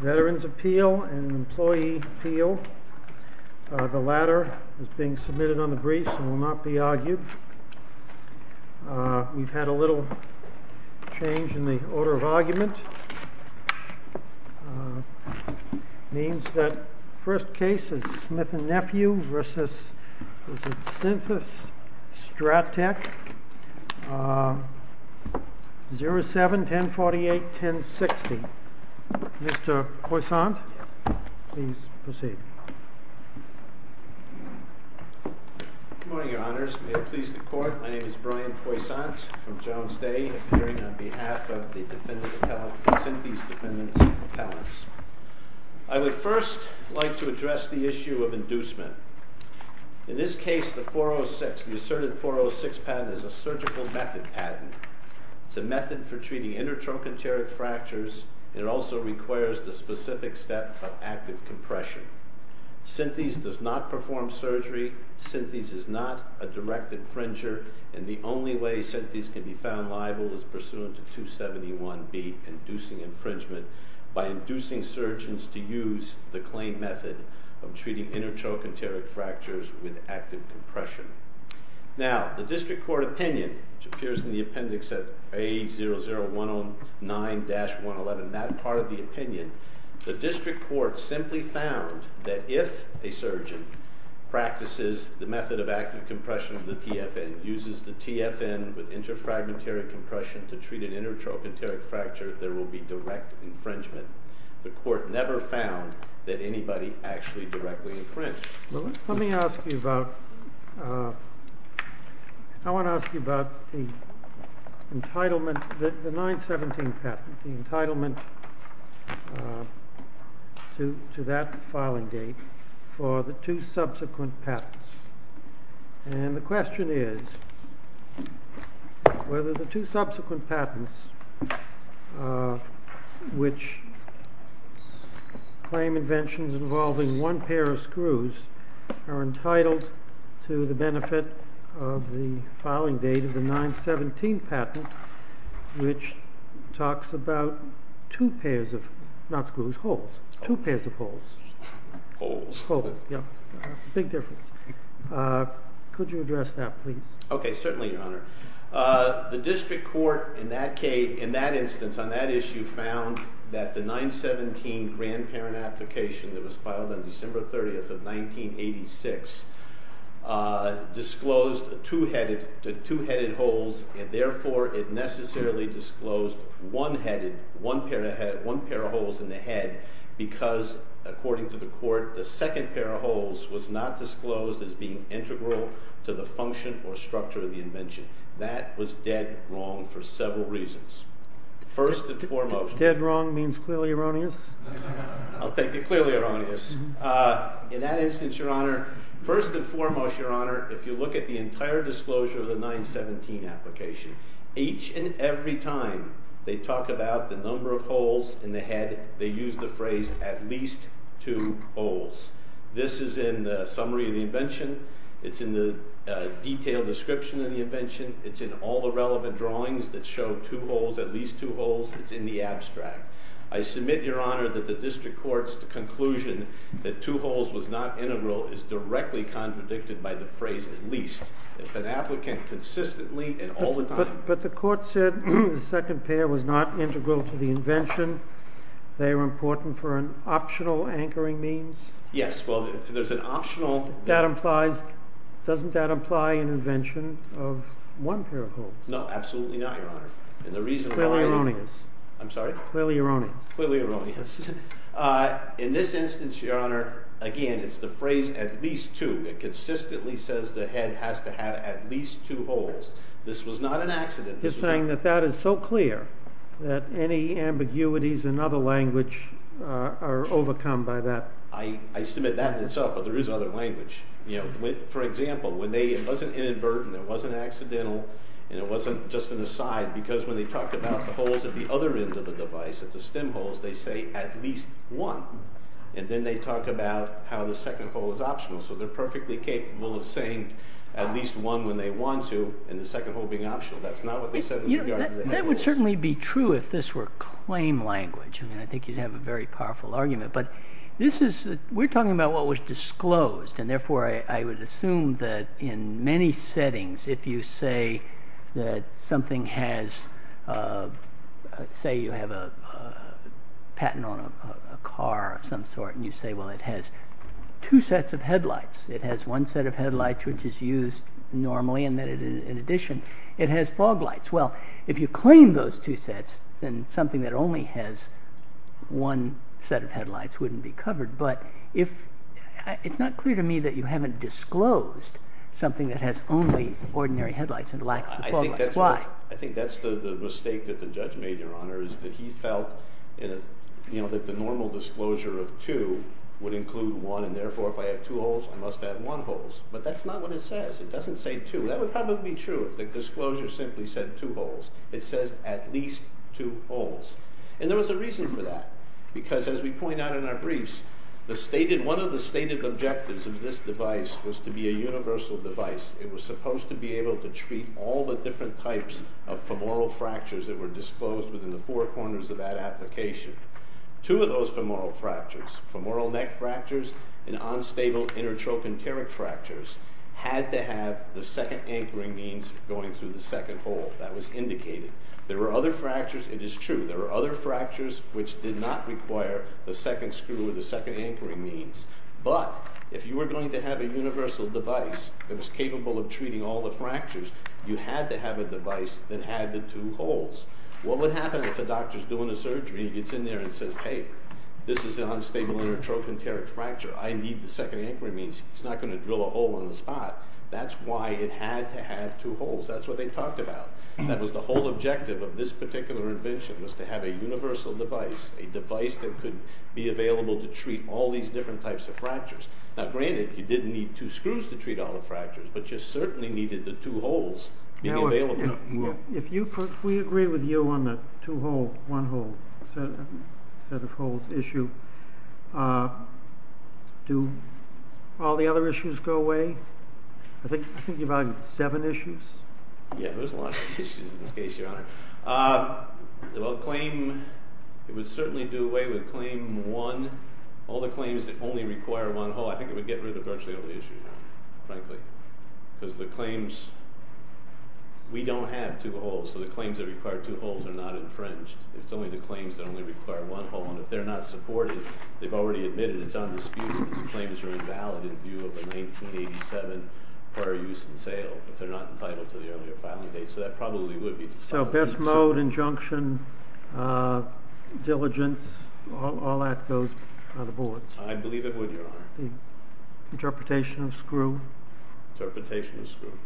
Veterans Appeal and Employee Appeal. The latter is being submitted on the briefs and will not be argued. We've had a little change in the order of argument. It means that the first case is Smith & Nephew v. Synthes-Stratec, 07-1048-1060. Mr. Poissant, please proceed. Good morning, Your Honors. May it please the Court, my name is Brian Poissant from Jones Day, appearing on behalf of the defendant's appellants, the Synthes defendants' appellants. I would first like to address the issue of inducement. In this case, the 406, the asserted 406 patent is a surgical method patent. It's a method for treating intertrochanteric fractures. It also requires the specific step of active compression. Synthes does not perform surgery. Synthes is not a direct infringer. And the only way Synthes can be found liable is pursuant to 271B, inducing infringement, by inducing surgeons to use the claim method of treating intertrochanteric fractures with active compression. Now, the district court opinion, which appears in the appendix at A00109-111, that part of the opinion, the district court simply found that if a surgeon practices the method of active compression, the TFN, uses the TFN with interfragmentary compression to treat an intertrochanteric fracture, there will be direct infringement. The court never found that anybody actually directly infringed. Well, let me ask you about the 917 patent, the entitlement to that filing date for the two subsequent patents. And the question is whether the two subsequent patents, which claim inventions involving one pair of screws, are entitled to the benefit of the filing date of the 917 patent, which talks about two pairs of, not screws, holes. Two pairs of holes. Holes. Holes, yeah. Big difference. Could you address that, please? Okay, certainly, Your Honor. The district court, in that case, in that instance, on that issue, found that the 917 grandparent application that was filed on December 30th of 1986, disclosed two headed holes, and therefore it necessarily disclosed one headed, one pair of holes in the head, because, according to the court, the second pair of holes was not disclosed as being integral to the function or structure of the invention. That was dead wrong for several reasons. Dead wrong means clearly erroneous? I'll take it clearly erroneous. In that instance, Your Honor, first and foremost, Your Honor, if you look at the entire disclosure of the 917 application, each and every time they talk about the number of holes in the head, they use the phrase, at least two holes. This is in the summary of the invention. It's in the detailed description of the invention. It's in all the relevant drawings that show two holes, at least two holes. It's in the abstract. I submit, Your Honor, that the district court's conclusion that two holes was not integral is directly contradicted by the phrase, at least. If an applicant consistently and all the time- But the court said the second pair was not integral to the invention, they were important for an optional anchoring means? Yes. Well, if there's an optional- Doesn't that imply an invention of one pair of holes? No, absolutely not, Your Honor. And the reason why- Clearly erroneous. I'm sorry? Clearly erroneous. Clearly erroneous. In this instance, Your Honor, again, it's the phrase, at least two. It consistently says the head has to have at least two holes. This was not an accident. You're saying that that is so clear that any ambiguities in other language are overcome by that? I submit that in itself, but there is other language. For example, it wasn't inadvertent, it wasn't accidental, and it wasn't just an aside, because when they talk about the holes at the other end of the device, at the stem holes, they say, at least one. And then they talk about how the second hole is optional. So they're perfectly capable of saying at least one when they want to, and the second hole being optional. That's not what they said in regard to the head holes. That would certainly be true if this were claim language. I mean, I think you'd have a very powerful argument. But this is- we're talking about what was disclosed. And therefore, I would assume that in many settings, if you say that something has- say you have a patent on a car of some sort, and you say, well, it has two sets of headlights. It has one set of headlights, which is used normally, and in addition, it has fog lights. Well, if you claim those two sets, then something that only has one set of headlights wouldn't be covered. But if- it's not clear to me that you haven't disclosed something that has only ordinary headlights and lacks the fog lights. Why? I think that's the mistake that the judge made, Your Honor, is that he felt that the normal disclosure of two would include one. And therefore, if I have two holes, I must have one holes. But that's not what it says. It doesn't say two. That would probably be true if the disclosure simply said two holes. It says at least two holes. And there was a reason for that, because as we point out in our briefs, the stated- one of the stated objectives of this device was to be a universal device. It was supposed to be able to treat all the different types of femoral fractures that were disclosed within the four corners of that application. Two of those femoral fractures, femoral neck fractures and unstable intertrochanteric fractures, had to have the second anchoring means going through the second hole. That was indicated. There were other fractures. It is true. There were other fractures which did not require the second screw or the second anchoring means. But if you were going to have a universal device that was capable of treating all the fractures, you had to have a device that had the two holes. What would happen if a doctor's doing a surgery, he gets in there and says, Hey, this is an unstable intertrochanteric fracture. I need the second anchoring means. He's not going to drill a hole in the spot. That's why it had to have two holes. That's what they talked about. That was the whole objective of this particular invention was to have a universal device, a device that could be available to treat all these different types of fractures. Now, granted, you didn't need two screws to treat all the fractures, but you certainly needed the two holes being available. If we agree with you on the two-hole, one-hole set of holes issue, do all the other issues go away? I think you've had seven issues. Yeah, there's a lot of issues in this case, Your Honor. Well, claim, it would certainly do away with claim one, all the claims that only require one hole. I think it would get rid of virtually all the issues, frankly, because the claims, we don't have two holes, so the claims that require two holes are not infringed. It's only the claims that only require one hole, and if they're not supported, they've already admitted it's undisputed that the claims are invalid in view of a 1987 prior use and sale. If they're not entitled to the earlier filing date, so that probably would be disqualified. So, best mode, injunction, diligence, all that goes on the boards. I believe it would, Your Honor. Interpretation of screw? Interpretation of screw.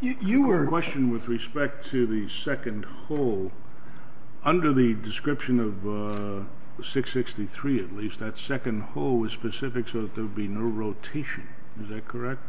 You were... I have a question with respect to the second hole. Under the description of 663, at least, that second hole was specific so that there would be no rotation. Is that correct?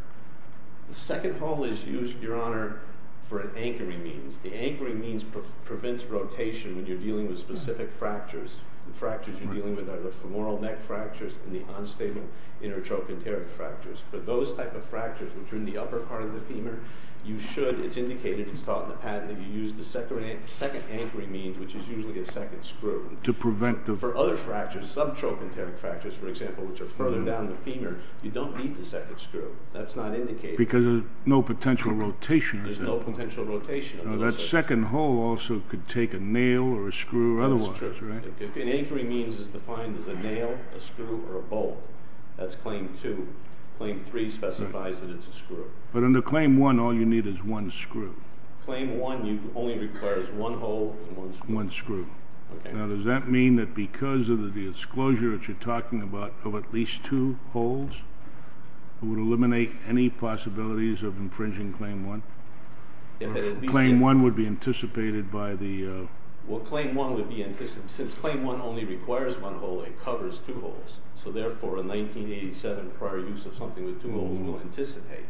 The second hole is used, Your Honor, for an anchoring means. The anchoring means prevents rotation when you're dealing with specific fractures. The fractures you're dealing with are the femoral neck fractures and the unstable inner trochanteric fractures. For those type of fractures, which are in the upper part of the femur, you should, it's indicated, it's taught in the patent, that you use the second anchoring means, which is usually a second screw. To prevent the... For other fractures, subtrochanteric fractures, for example, which are further down the femur, you don't need the second screw. That's not indicated. Because there's no potential rotation. There's no potential rotation. Now, that second hole also could take a nail or a screw or otherwise, right? That's true. An anchoring means is defined as a nail, a screw, or a bolt. That's Claim 2. Claim 3 specifies that it's a screw. But under Claim 1, all you need is one screw. Claim 1 only requires one hole and one screw. One screw. Now, does that mean that because of the disclosure that you're talking about of at least two holes, it would eliminate any possibilities of infringing Claim 1? If at least... Claim 1 would be anticipated by the... Well, Claim 1 would be anticipated. Since Claim 1 only requires one hole, it covers two holes. So, therefore, a 1987 prior use of something with two holes will anticipate.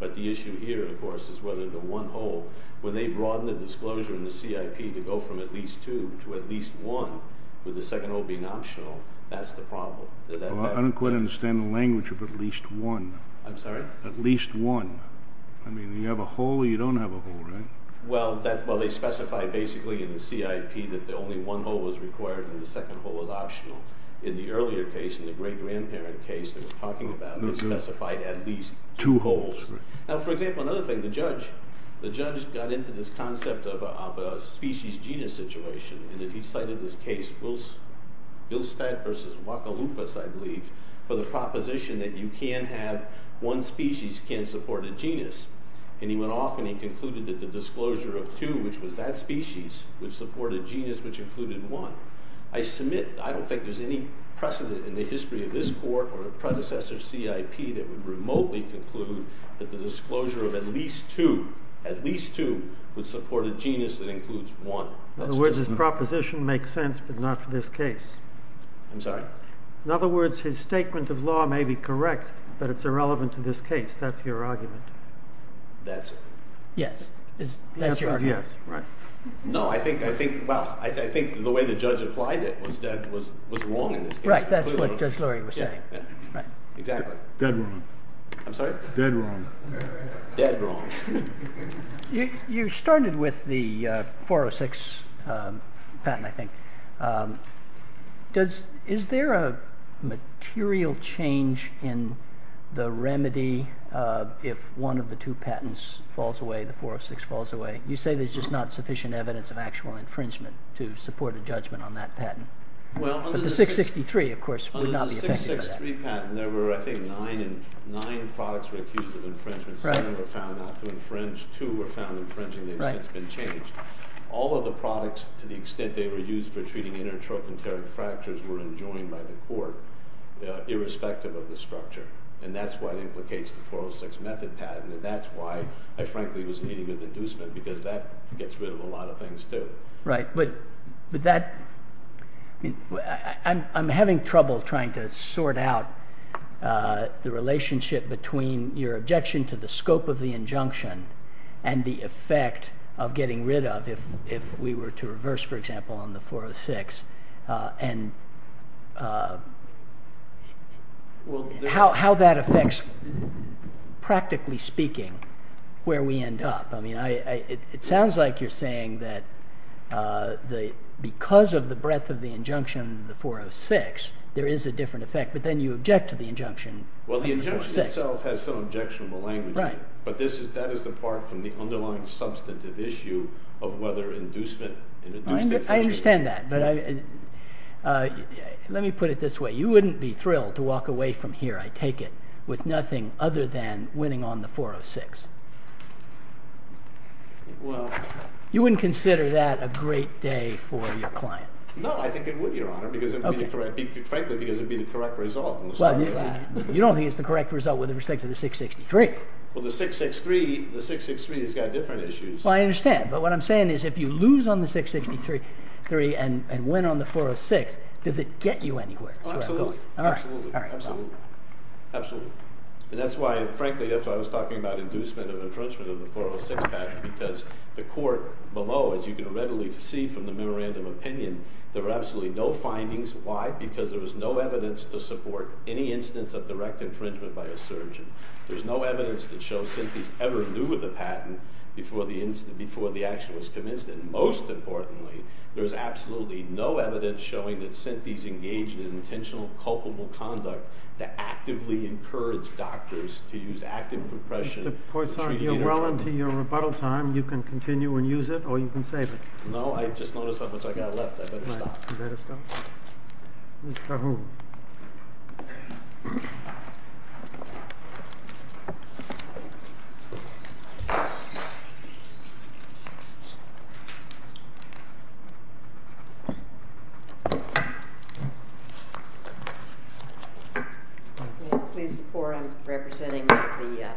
But the issue here, of course, is whether the one hole, when they broaden the disclosure in the CIP to go from at least two to at least one, with the second hole being optional, that's the problem. Well, I don't quite understand the language of at least one. I'm sorry? At least one. I mean, you have a hole or you don't have a hole, right? Well, they specify, basically, in the CIP that the only one hole was required and the second hole was optional. In the earlier case, in the great-grandparent case they were talking about, they specified at least two holes. Now, for example, another thing. The judge got into this concept of a species-genus situation. And he cited this case, Bilstein v. Guadalupe, I believe, for the proposition that one species can support a genus. And he went off and he concluded that the disclosure of two, which was that species, would support a genus which included one. I don't think there's any precedent in the history of this court or the predecessor CIP that would remotely conclude that the disclosure of at least two would support a genus that includes one. In other words, his proposition makes sense, but not for this case. I'm sorry? In other words, his statement of law may be correct, but it's irrelevant to this case. That's your argument. That's it. Yes. That's your argument. The answer is yes. No, I think the way the judge applied it was wrong in this case. Right. That's what Judge Lurie was saying. Exactly. Dead wrong. I'm sorry? Dead wrong. Dead wrong. You started with the 406 patent, I think. Is there a material change in the remedy if one of the two patents falls away, the 406 falls away? You say there's just not sufficient evidence of actual infringement to support a judgment on that patent. The 663, of course, would not be effective. Under the 663 patent, there were, I think, nine products were accused of infringement. Seven were found out to infringe. Two were found infringing. They've since been changed. All of the products, to the extent they were used for treating intertropontary fractures, were enjoined by the court, irrespective of the structure. And that's what implicates the 406 method patent, and that's why I, frankly, was leading with inducement, because that gets rid of a lot of things, too. Right. But that—I'm having trouble trying to sort out the relationship between your objection to the scope of the injunction and the effect of getting rid of, if we were to reverse, for example, on the 406, and how that affects, practically speaking, where we end up. It sounds like you're saying that because of the breadth of the injunction, the 406, there is a different effect, but then you object to the injunction. Well, the injunction itself has some objectionable language in it, but that is apart from the underlying substantive issue of whether inducement and induced infringement— I understand that, but let me put it this way. You wouldn't be thrilled to walk away from here, I take it, with nothing other than winning on the 406. Well— You wouldn't consider that a great day for your client. No, I think it would, Your Honor, because it would be the correct— You don't think it's the correct result with respect to the 663. Well, the 663 has got different issues. Well, I understand, but what I'm saying is if you lose on the 663 and win on the 406, does it get you anywhere? Absolutely. And that's why, frankly, that's why I was talking about inducement and infringement of the 406 patent, because the court below, as you can readily see from the memorandum opinion, there were absolutely no findings. Why? Because there was no evidence to support any instance of direct infringement by a surgeon. There was no evidence to show synthies ever knew of the patent before the action was commenced. And most importantly, there was absolutely no evidence showing that synthies engaged in intentional culpable conduct to actively encourage doctors to use active compression— Mr. Poisson, you're well into your rebuttal time. You can continue and use it, or you can save it. No, I just noticed how much I've got left. I'd better stop. Mr. Hu. May I please support? I'm representing the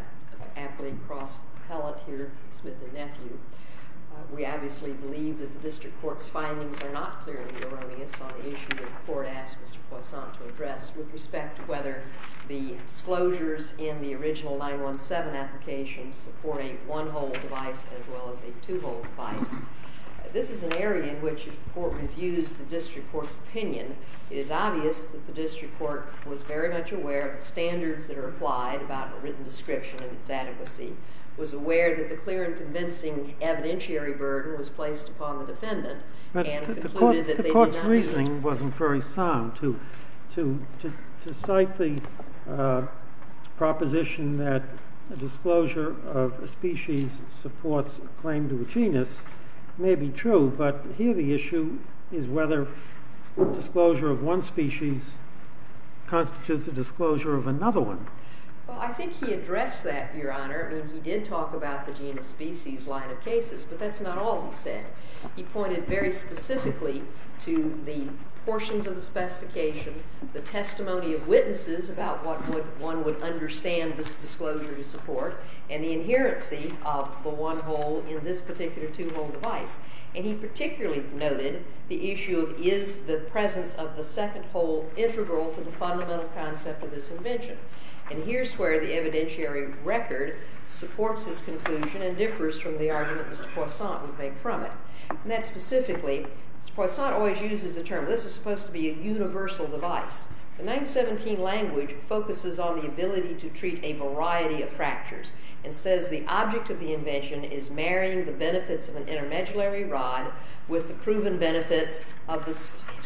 athlete cross-palleteer, Smith and Nephew. We obviously believe that the district court's findings are not clearly erroneous on the issue that the court asked Mr. Poisson to address with respect to whether the disclosures in the original 917 application support a one-hole device as well as a two-hole device. This is an area in which if the court reviews the district court's opinion, it is obvious that the district court was very much aware of the standards that are applied about a written description and its adequacy, was aware that the clear and convincing evidentiary burden was placed upon the defendant, and concluded that they did not— But the court's reasoning wasn't very sound. To cite the proposition that a disclosure of a species supports a claim to a genus may be true, but here the issue is whether a disclosure of one species constitutes a disclosure of another one. Well, I think he addressed that, Your Honor. I mean, he did talk about the genus-species line of cases, but that's not all he said. He pointed very specifically to the portions of the specification, the testimony of witnesses about what one would understand this disclosure to support, and the inherency of the one-hole in this particular two-hole device. And he particularly noted the issue of, is the presence of the second hole integral to the fundamental concept of this invention? And here's where the evidentiary record supports his conclusion and differs from the argument Mr. Poisson would make from it. And that specifically, Mr. Poisson always uses the term, this is supposed to be a universal device. The 1917 language focuses on the ability to treat a variety of fractures and says the object of the invention is marrying the benefits of an intermediary rod with the proven benefits of the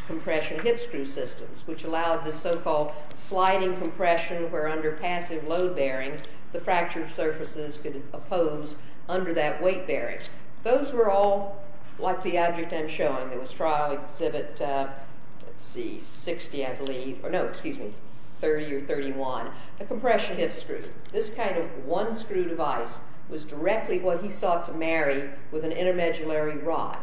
compression hip screw systems, which allowed the so-called sliding compression where under passive load bearing, the fractured surfaces could oppose under that weight bearing. Those were all like the object I'm showing. It was trial exhibit, let's see, 60, I believe, or no, excuse me, 30 or 31, a compression hip screw. This kind of one-screw device was directly what he sought to marry with an intermediary rod.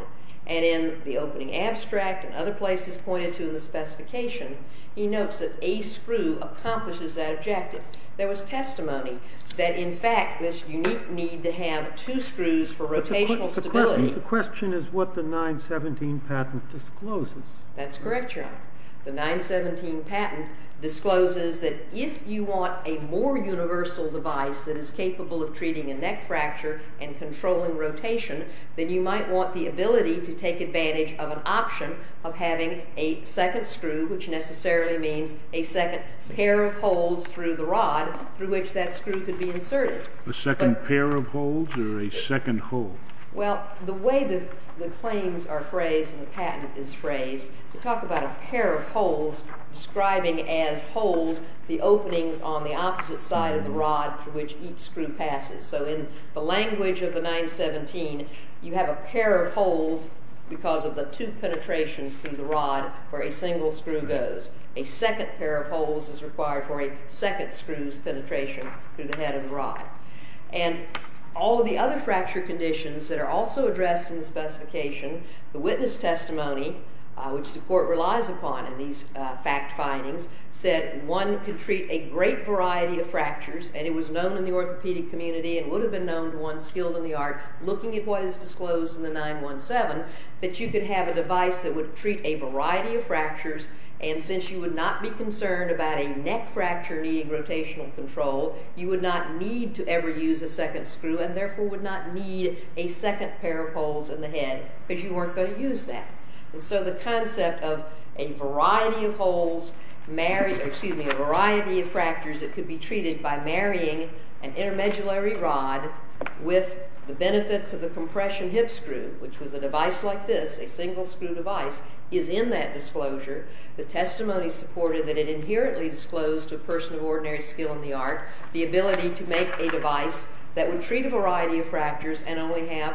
And in the opening abstract and other places pointed to in the specification, he notes that a screw accomplishes that objective. There was testimony that in fact this unique need to have two screws for rotational stability. The question is what the 1917 patent discloses. That's correct, Your Honor. The 1917 patent discloses that if you want a more universal device that is capable of treating a neck fracture and controlling rotation, then you might want the ability to take advantage of an option of having a second screw, which necessarily means a second pair of holes through the rod through which that screw could be inserted. A second pair of holes or a second hole? Well, the way the claims are phrased and the patent is phrased, to talk about a pair of holes, describing as holes the openings on the opposite side of the rod through which each screw passes. So in the language of the 917, you have a pair of holes because of the two penetrations through the rod where a single screw goes. A second pair of holes is required for a second screw's penetration through the head of the rod. And all of the other fracture conditions that are also addressed in the specification, the witness testimony, which the court relies upon in these fact findings, said one could treat a great variety of fractures, and it was known in the orthopedic community and would have been known to one skilled in the art looking at what is disclosed in the 917, that you could have a device that would treat a variety of fractures and since you would not be concerned about a neck fracture needing rotational control, you would not need to ever use a second screw and therefore would not need a second pair of holes in the head because you weren't going to use that. And so the concept of a variety of fractures that could be treated by marrying an intermediary rod with the benefits of the compression hip screw, which was a device like this, a single screw device, is in that disclosure. The testimony supported that it inherently disclosed to a person of ordinary skill in the art the ability to make a device that would treat a variety of fractures and only have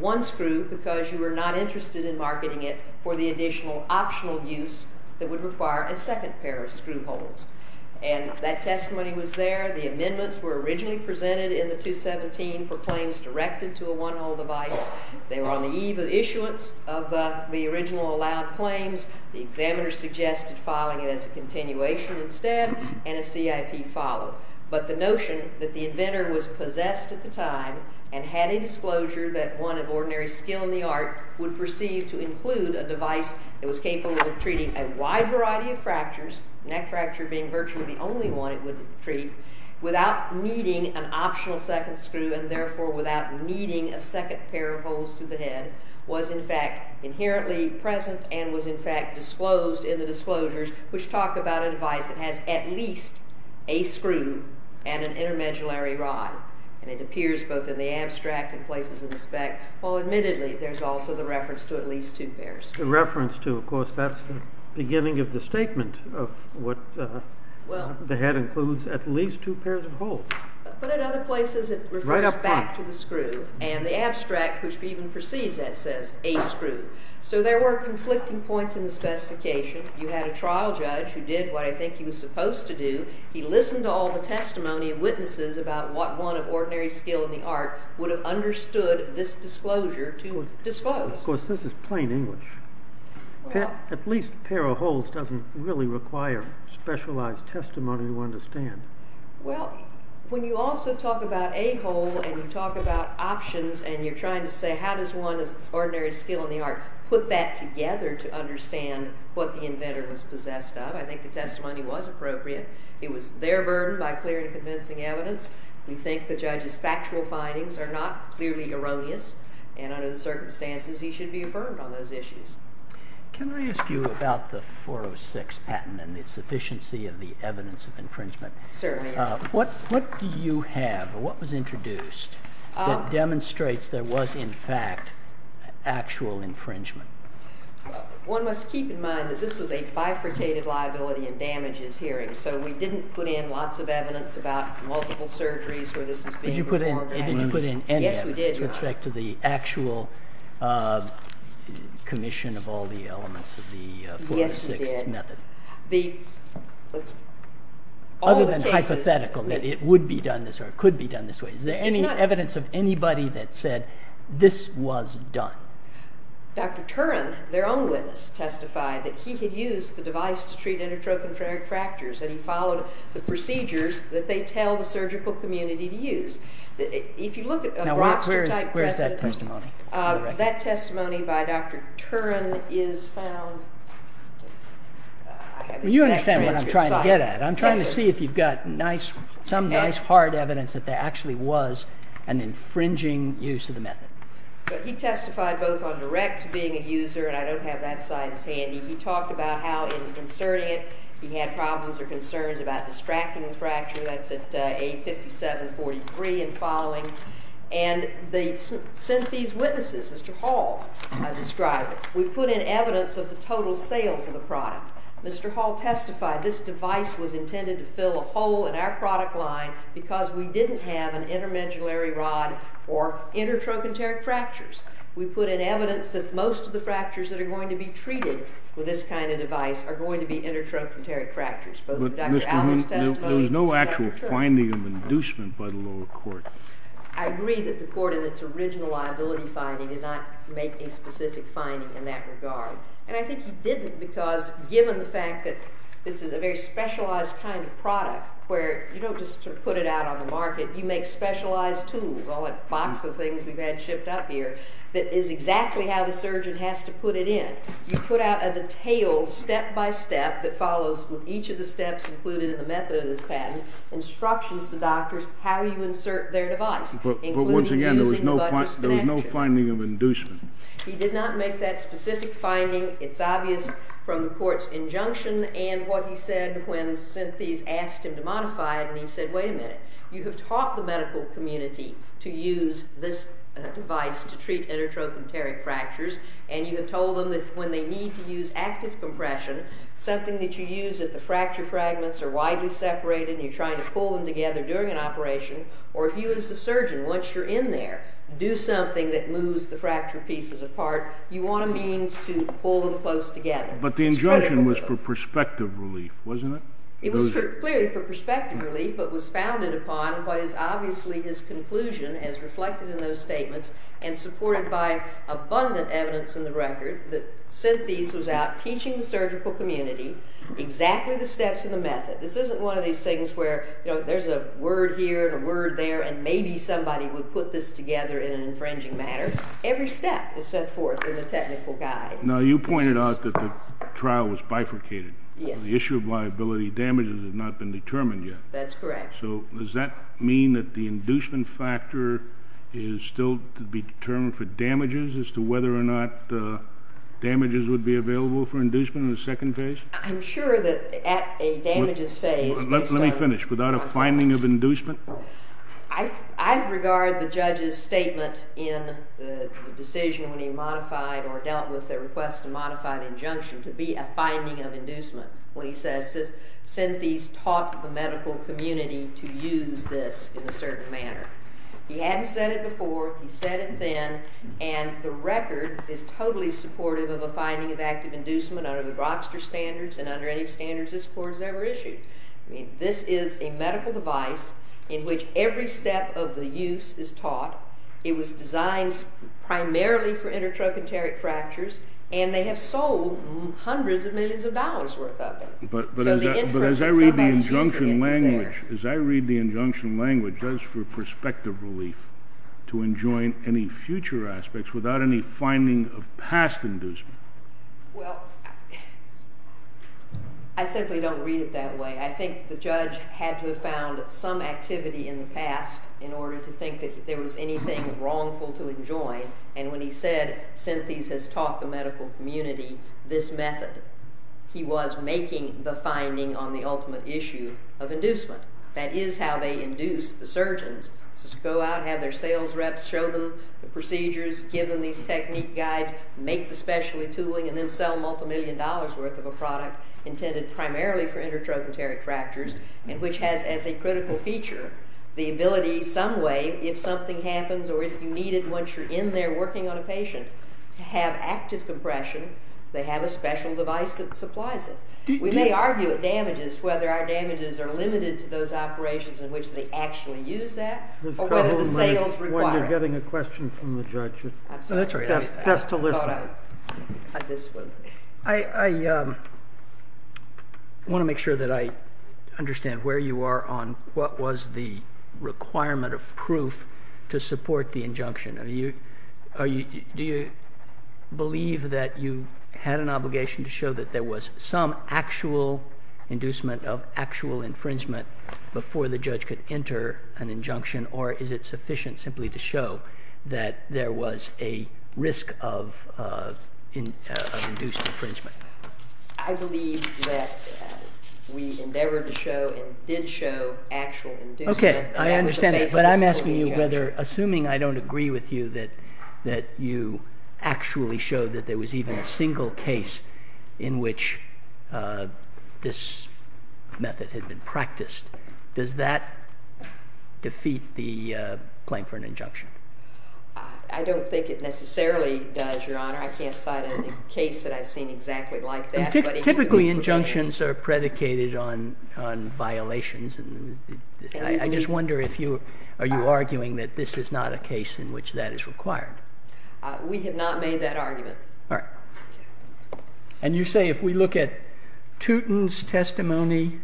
one screw because you were not interested in marketing it for the additional optional use that would require a second pair of screw holes. And that testimony was there. The amendments were originally presented in the 217 for claims directed to a one-hole device. They were on the eve of issuance of the original allowed claims. The examiner suggested filing it as a continuation instead, and a CIP followed. But the notion that the inventor was possessed at the time and had a disclosure that one of ordinary skill in the art would perceive to include a device that was capable of treating a wide variety of fractures, neck fracture being virtually the only one it would treat, without needing an optional second screw and therefore without needing a second pair of holes through the head, was in fact inherently present and was in fact disclosed in the disclosures which talk about a device that has at least a screw and an intermediary rod. And it appears both in the abstract and places in the spec, while admittedly there's also the reference to at least two pairs. The reference to, of course, that's the beginning of the statement of what the head includes, at least two pairs of holes. But in other places it refers back to the screw. And the abstract, which even perceives that, says a screw. So there were conflicting points in the specification. You had a trial judge who did what I think he was supposed to do. He listened to all the testimony of witnesses about what one of ordinary skill in the art would have understood this disclosure to disclose. Of course, this is plain English. At least a pair of holes doesn't really require specialized testimony to understand. Well, when you also talk about a hole and you talk about options and you're trying to say how does one of ordinary skill in the art put that together to understand what the inventor was possessed of, I think the testimony was appropriate. It was their burden by clear and convincing evidence. We think the judge's factual findings are not clearly erroneous, and under the circumstances he should be affirmed on those issues. Can I ask you about the 406 patent and the sufficiency of the evidence of infringement? Certainly. What do you have, or what was introduced, that demonstrates there was in fact actual infringement? One must keep in mind that this was a bifurcated liability and damages hearing, so we didn't put in lots of evidence about multiple surgeries where this was being performed. You didn't put in any evidence with respect to the actual commission of all the elements of the 406 method? Other than hypothetical, that it would be done this way or it could be done this way. Is there any evidence of anybody that said this was done? Dr. Turin, their own witness, testified that he had used the device to treat endotropic fractures and he followed the procedures that they tell the surgical community to use. If you look at a Rockster type precedent, that testimony by Dr. Turin is found You understand what I'm trying to get at. I'm trying to see if you've got some nice hard evidence that there actually was an infringing use of the method. He testified both on direct to being a user, and I don't have that side as handy. He talked about how in inserting it, he had problems or concerns about distracting the fracture. That's at A5743 and following. And they sent these witnesses, Mr. Hall, I described. We put in evidence of the total sales of the product. Mr. Hall testified this device was intended to fill a hole in our product line because we didn't have an intermediary rod or intertrochanteric fractures. We put in evidence that most of the fractures that are going to be treated with this kind of device are going to be intertrochanteric fractures. There was no actual finding of inducement by the lower court. I agree that the court in its original liability finding did not make a specific finding in that regard. And I think he didn't because given the fact that this is a very specialized kind of product where you don't just put it out on the market. You make specialized tools, all that box of things we've had shipped up here that is exactly how the surgeon has to put it in. You put out a detailed step-by-step that follows with each of the steps included in the method of this patent instructions to doctors how you insert their device. But once again, there was no finding of inducement. He did not make that specific finding. It's obvious from the court's injunction and what he said when Synthes asked him to modify it. And he said, wait a minute, you have taught the medical community to use this device to treat intertrochanteric fractures. And you have told them that when they need to use active compression, something that you use if the fracture fragments are widely separated and you're trying to pull them together during an operation, or if you as a surgeon, once you're in there, do something that moves the fracture pieces apart, you want a means to pull them close together. But the injunction was for perspective relief, wasn't it? It was clearly for perspective relief but was founded upon what is obviously his conclusion as reflected in those statements and supported by abundant evidence in the record that Synthes was out teaching the surgical community exactly the steps in the method. This isn't one of these things where there's a word here and a word there and maybe somebody would put this together in an infringing manner. Every step is set forth in the technical guide. Now, you pointed out that the trial was bifurcated. Yes. The issue of liability damages has not been determined yet. That's correct. So does that mean that the inducement factor is still to be determined for damages as to whether or not damages would be available for inducement in the second phase? I'm sure that at a damages phase, based on- Let me finish. Without a finding of inducement? I regard the judge's statement in the decision when he modified or dealt with the request to modify the injunction to be a finding of inducement. When he says Synthes taught the medical community to use this in a certain manner. He hadn't said it before. He said it then. And the record is totally supportive of a finding of active inducement under the Rochster standards and under any standards this court has ever issued. I mean, this is a medical device in which every step of the use is taught. It was designed primarily for intertrochanteric fractures, and they have sold hundreds of millions of dollars worth of it. But as I read the injunction language, does for prospective relief to enjoin any future aspects without any finding of past inducement? Well, I simply don't read it that way. I think the judge had to have found some activity in the past in order to think that there was anything wrongful to enjoin. And when he said Synthes has taught the medical community this method, he was making the finding on the ultimate issue of inducement. That is how they induce the surgeons to go out, have their sales reps show them the procedures, give them these technique guides, make the specialty tooling, and then sell multi-million dollars worth of a product intended primarily for intertrochanteric fractures, and which has as a critical feature the ability some way, if something happens or if you need it once you're in there working on a patient, to have active compression. They have a special device that supplies it. We may argue at damages whether our damages are limited to those operations in which they actually use that or whether the sales require it. When you're getting a question from the judge. I'm sorry. Just to listen. I want to make sure that I understand where you are on what was the requirement of proof to support the injunction. Do you believe that you had an obligation to show that there was some actual inducement of actual infringement before the judge could enter an injunction, or is it sufficient simply to show that there was a risk of induced infringement? I believe that we endeavored to show and did show actual inducement. Okay. But I'm asking you whether, assuming I don't agree with you, that you actually showed that there was even a single case in which this method had been practiced, does that defeat the claim for an injunction? I don't think it necessarily does, Your Honor. I can't cite any case that I've seen exactly like that. Typically, injunctions are predicated on violations. I just wonder if you are arguing that this is not a case in which that is required. We have not made that argument. All right. And you say if we look at Turin's testimony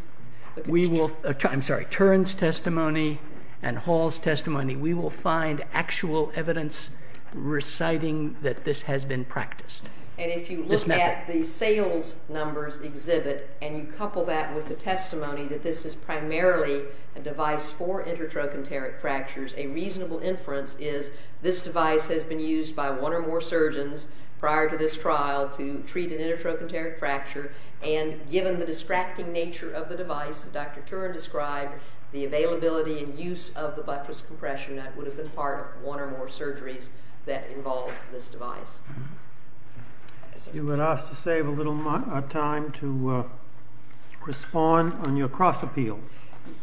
and Hall's testimony, we will find actual evidence reciting that this has been practiced. And if you look at the sales numbers exhibit and you couple that with the testimony that this is primarily a device for intertrochanteric fractures, a reasonable inference is this device has been used by one or more surgeons prior to this trial to treat an intertrochanteric fracture, and given the distracting nature of the device that Dr. Turin described, the availability and use of the buttress compression net would have been part of one or more surgeries that involved this device. You would ask to save a little time to respond on your cross appeal.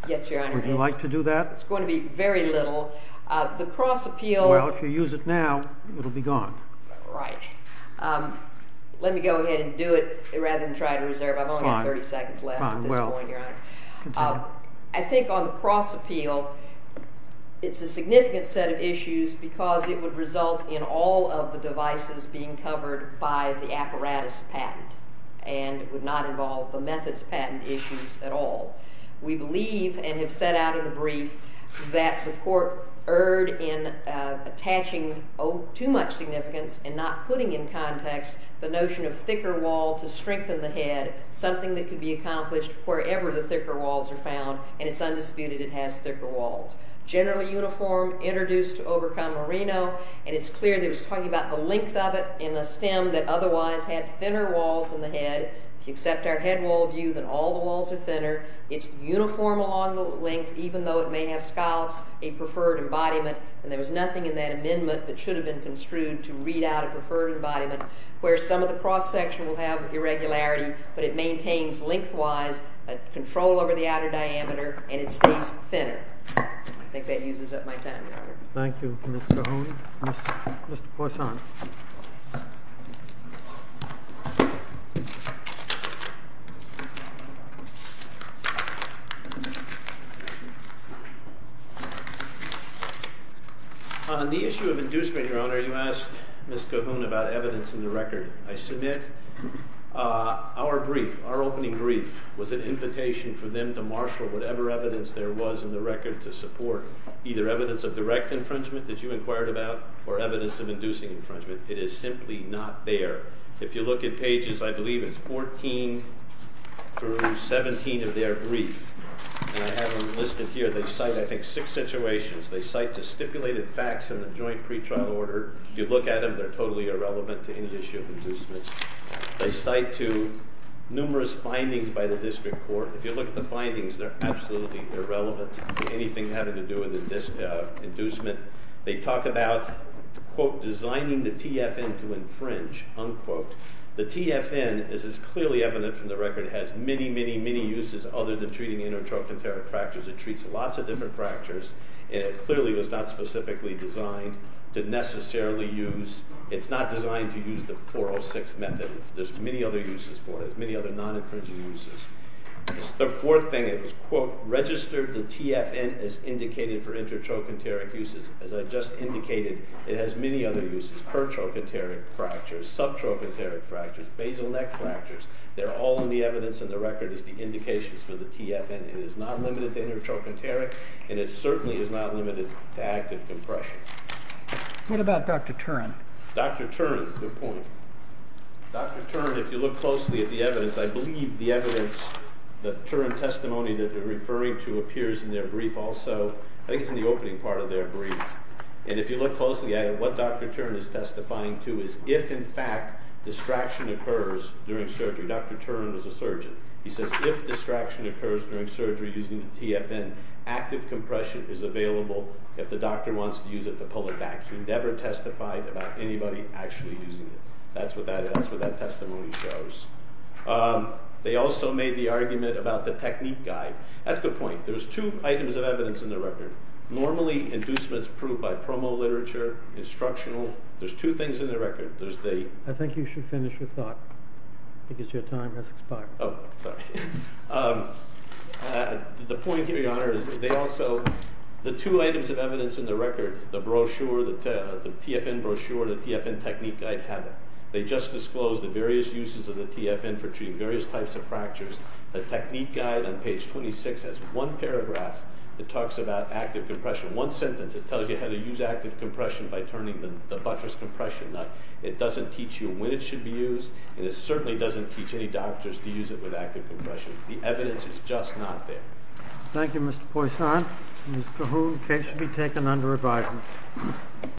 Yes, Your Honor. Would you like to do that? It's going to be very little. The cross appeal... Well, if you use it now, it will be gone. Right. Let me go ahead and do it rather than try to reserve. I've only got 30 seconds left at this point, Your Honor. Fine. I think on the cross appeal, it's a significant set of issues because it would result in all of the devices being covered by the apparatus patent, and it would not involve the methods patent issues at all. We believe and have set out in the brief that the court erred in attaching too much significance and not putting in context the notion of thicker wall to strengthen the head, something that could be accomplished wherever the thicker walls are found, and it's undisputed it has thicker walls. Generally uniform, introduced to overcome merino, and it's clear that it's talking about the length of it in a stem that otherwise had thinner walls in the head. If you accept our head wall view, then all the walls are thinner. It's uniform along the length, even though it may have scallops, a preferred embodiment, and there was nothing in that amendment that should have been construed to read out a preferred embodiment where some of the cross section will have irregularity, but it maintains lengthwise a control over the outer diameter, and it stays thinner. I think that uses up my time, Your Honor. Thank you, Ms. Cahoon. Mr. Poisson. On the issue of inducement, Your Honor, you asked Ms. Cahoon about evidence in the record. I submit our brief, our opening brief, was an invitation for them to marshal whatever evidence there was in the record to support either evidence of direct infringement that you inquired about or evidence of inducing infringement. It is simply not there. If you look at pages, I believe it's 14 through 17 of their brief, and I have them listed here. They cite, I think, six situations. They cite the stipulated facts in the joint pretrial order. If you look at them, they're totally irrelevant to any issue of inducement. They cite, too, numerous findings by the district court. If you look at the findings, they're absolutely irrelevant to anything having to do with inducement. They talk about, quote, designing the TFN to infringe, unquote. The TFN is clearly evident from the record. It has many, many, many uses other than treating intertrochanteric fractures. It treats lots of different fractures, and it clearly was not specifically designed to necessarily use... It's not designed to use the 406 method. There's many other uses for it. There's many other non-infringing uses. The fourth thing, it was, quote, registered the TFN as indicating for intertrochanteric uses. As I've just indicated, it has many other uses. Pertrochanteric fractures, subtrochanteric fractures, basal neck fractures, they're all in the evidence in the record as the indications for the TFN. It is not limited to intertrochanteric, and it certainly is not limited to active compression. What about Dr. Turin? Dr. Turin, good point. Dr. Turin, if you look closely at the evidence, I believe the evidence, the Turin testimony that you're referring to appears in their brief also. I think it's in the opening part of their brief. And if you look closely at it, what Dr. Turin is testifying to is if, in fact, distraction occurs during surgery. Dr. Turin was a surgeon. He says if distraction occurs during surgery using the TFN, active compression is available if the doctor wants to use it to pull it back. He never testified about anybody actually using it. That's what that testimony shows. They also made the argument about the technique guide. That's a good point. There's two items of evidence in the record. Normally, inducements proved by promo literature, instructional. There's two things in the record. I think you should finish your thought because your time has expired. Oh, sorry. The point here, Your Honor, is they also, the two items of evidence in the record, the brochure, the TFN brochure, the TFN technique guide, have it. They just disclosed the various uses of the TFN for treating various types of fractures. The technique guide on page 26 has one paragraph that talks about active compression. One sentence, it tells you how to use active compression by turning the buttress compression nut. It doesn't teach you when it should be used, and it certainly doesn't teach any doctors to use it with active compression. The evidence is just not there. Thank you, Mr. Poisson. Ms. Cahoon, case should be taken under review.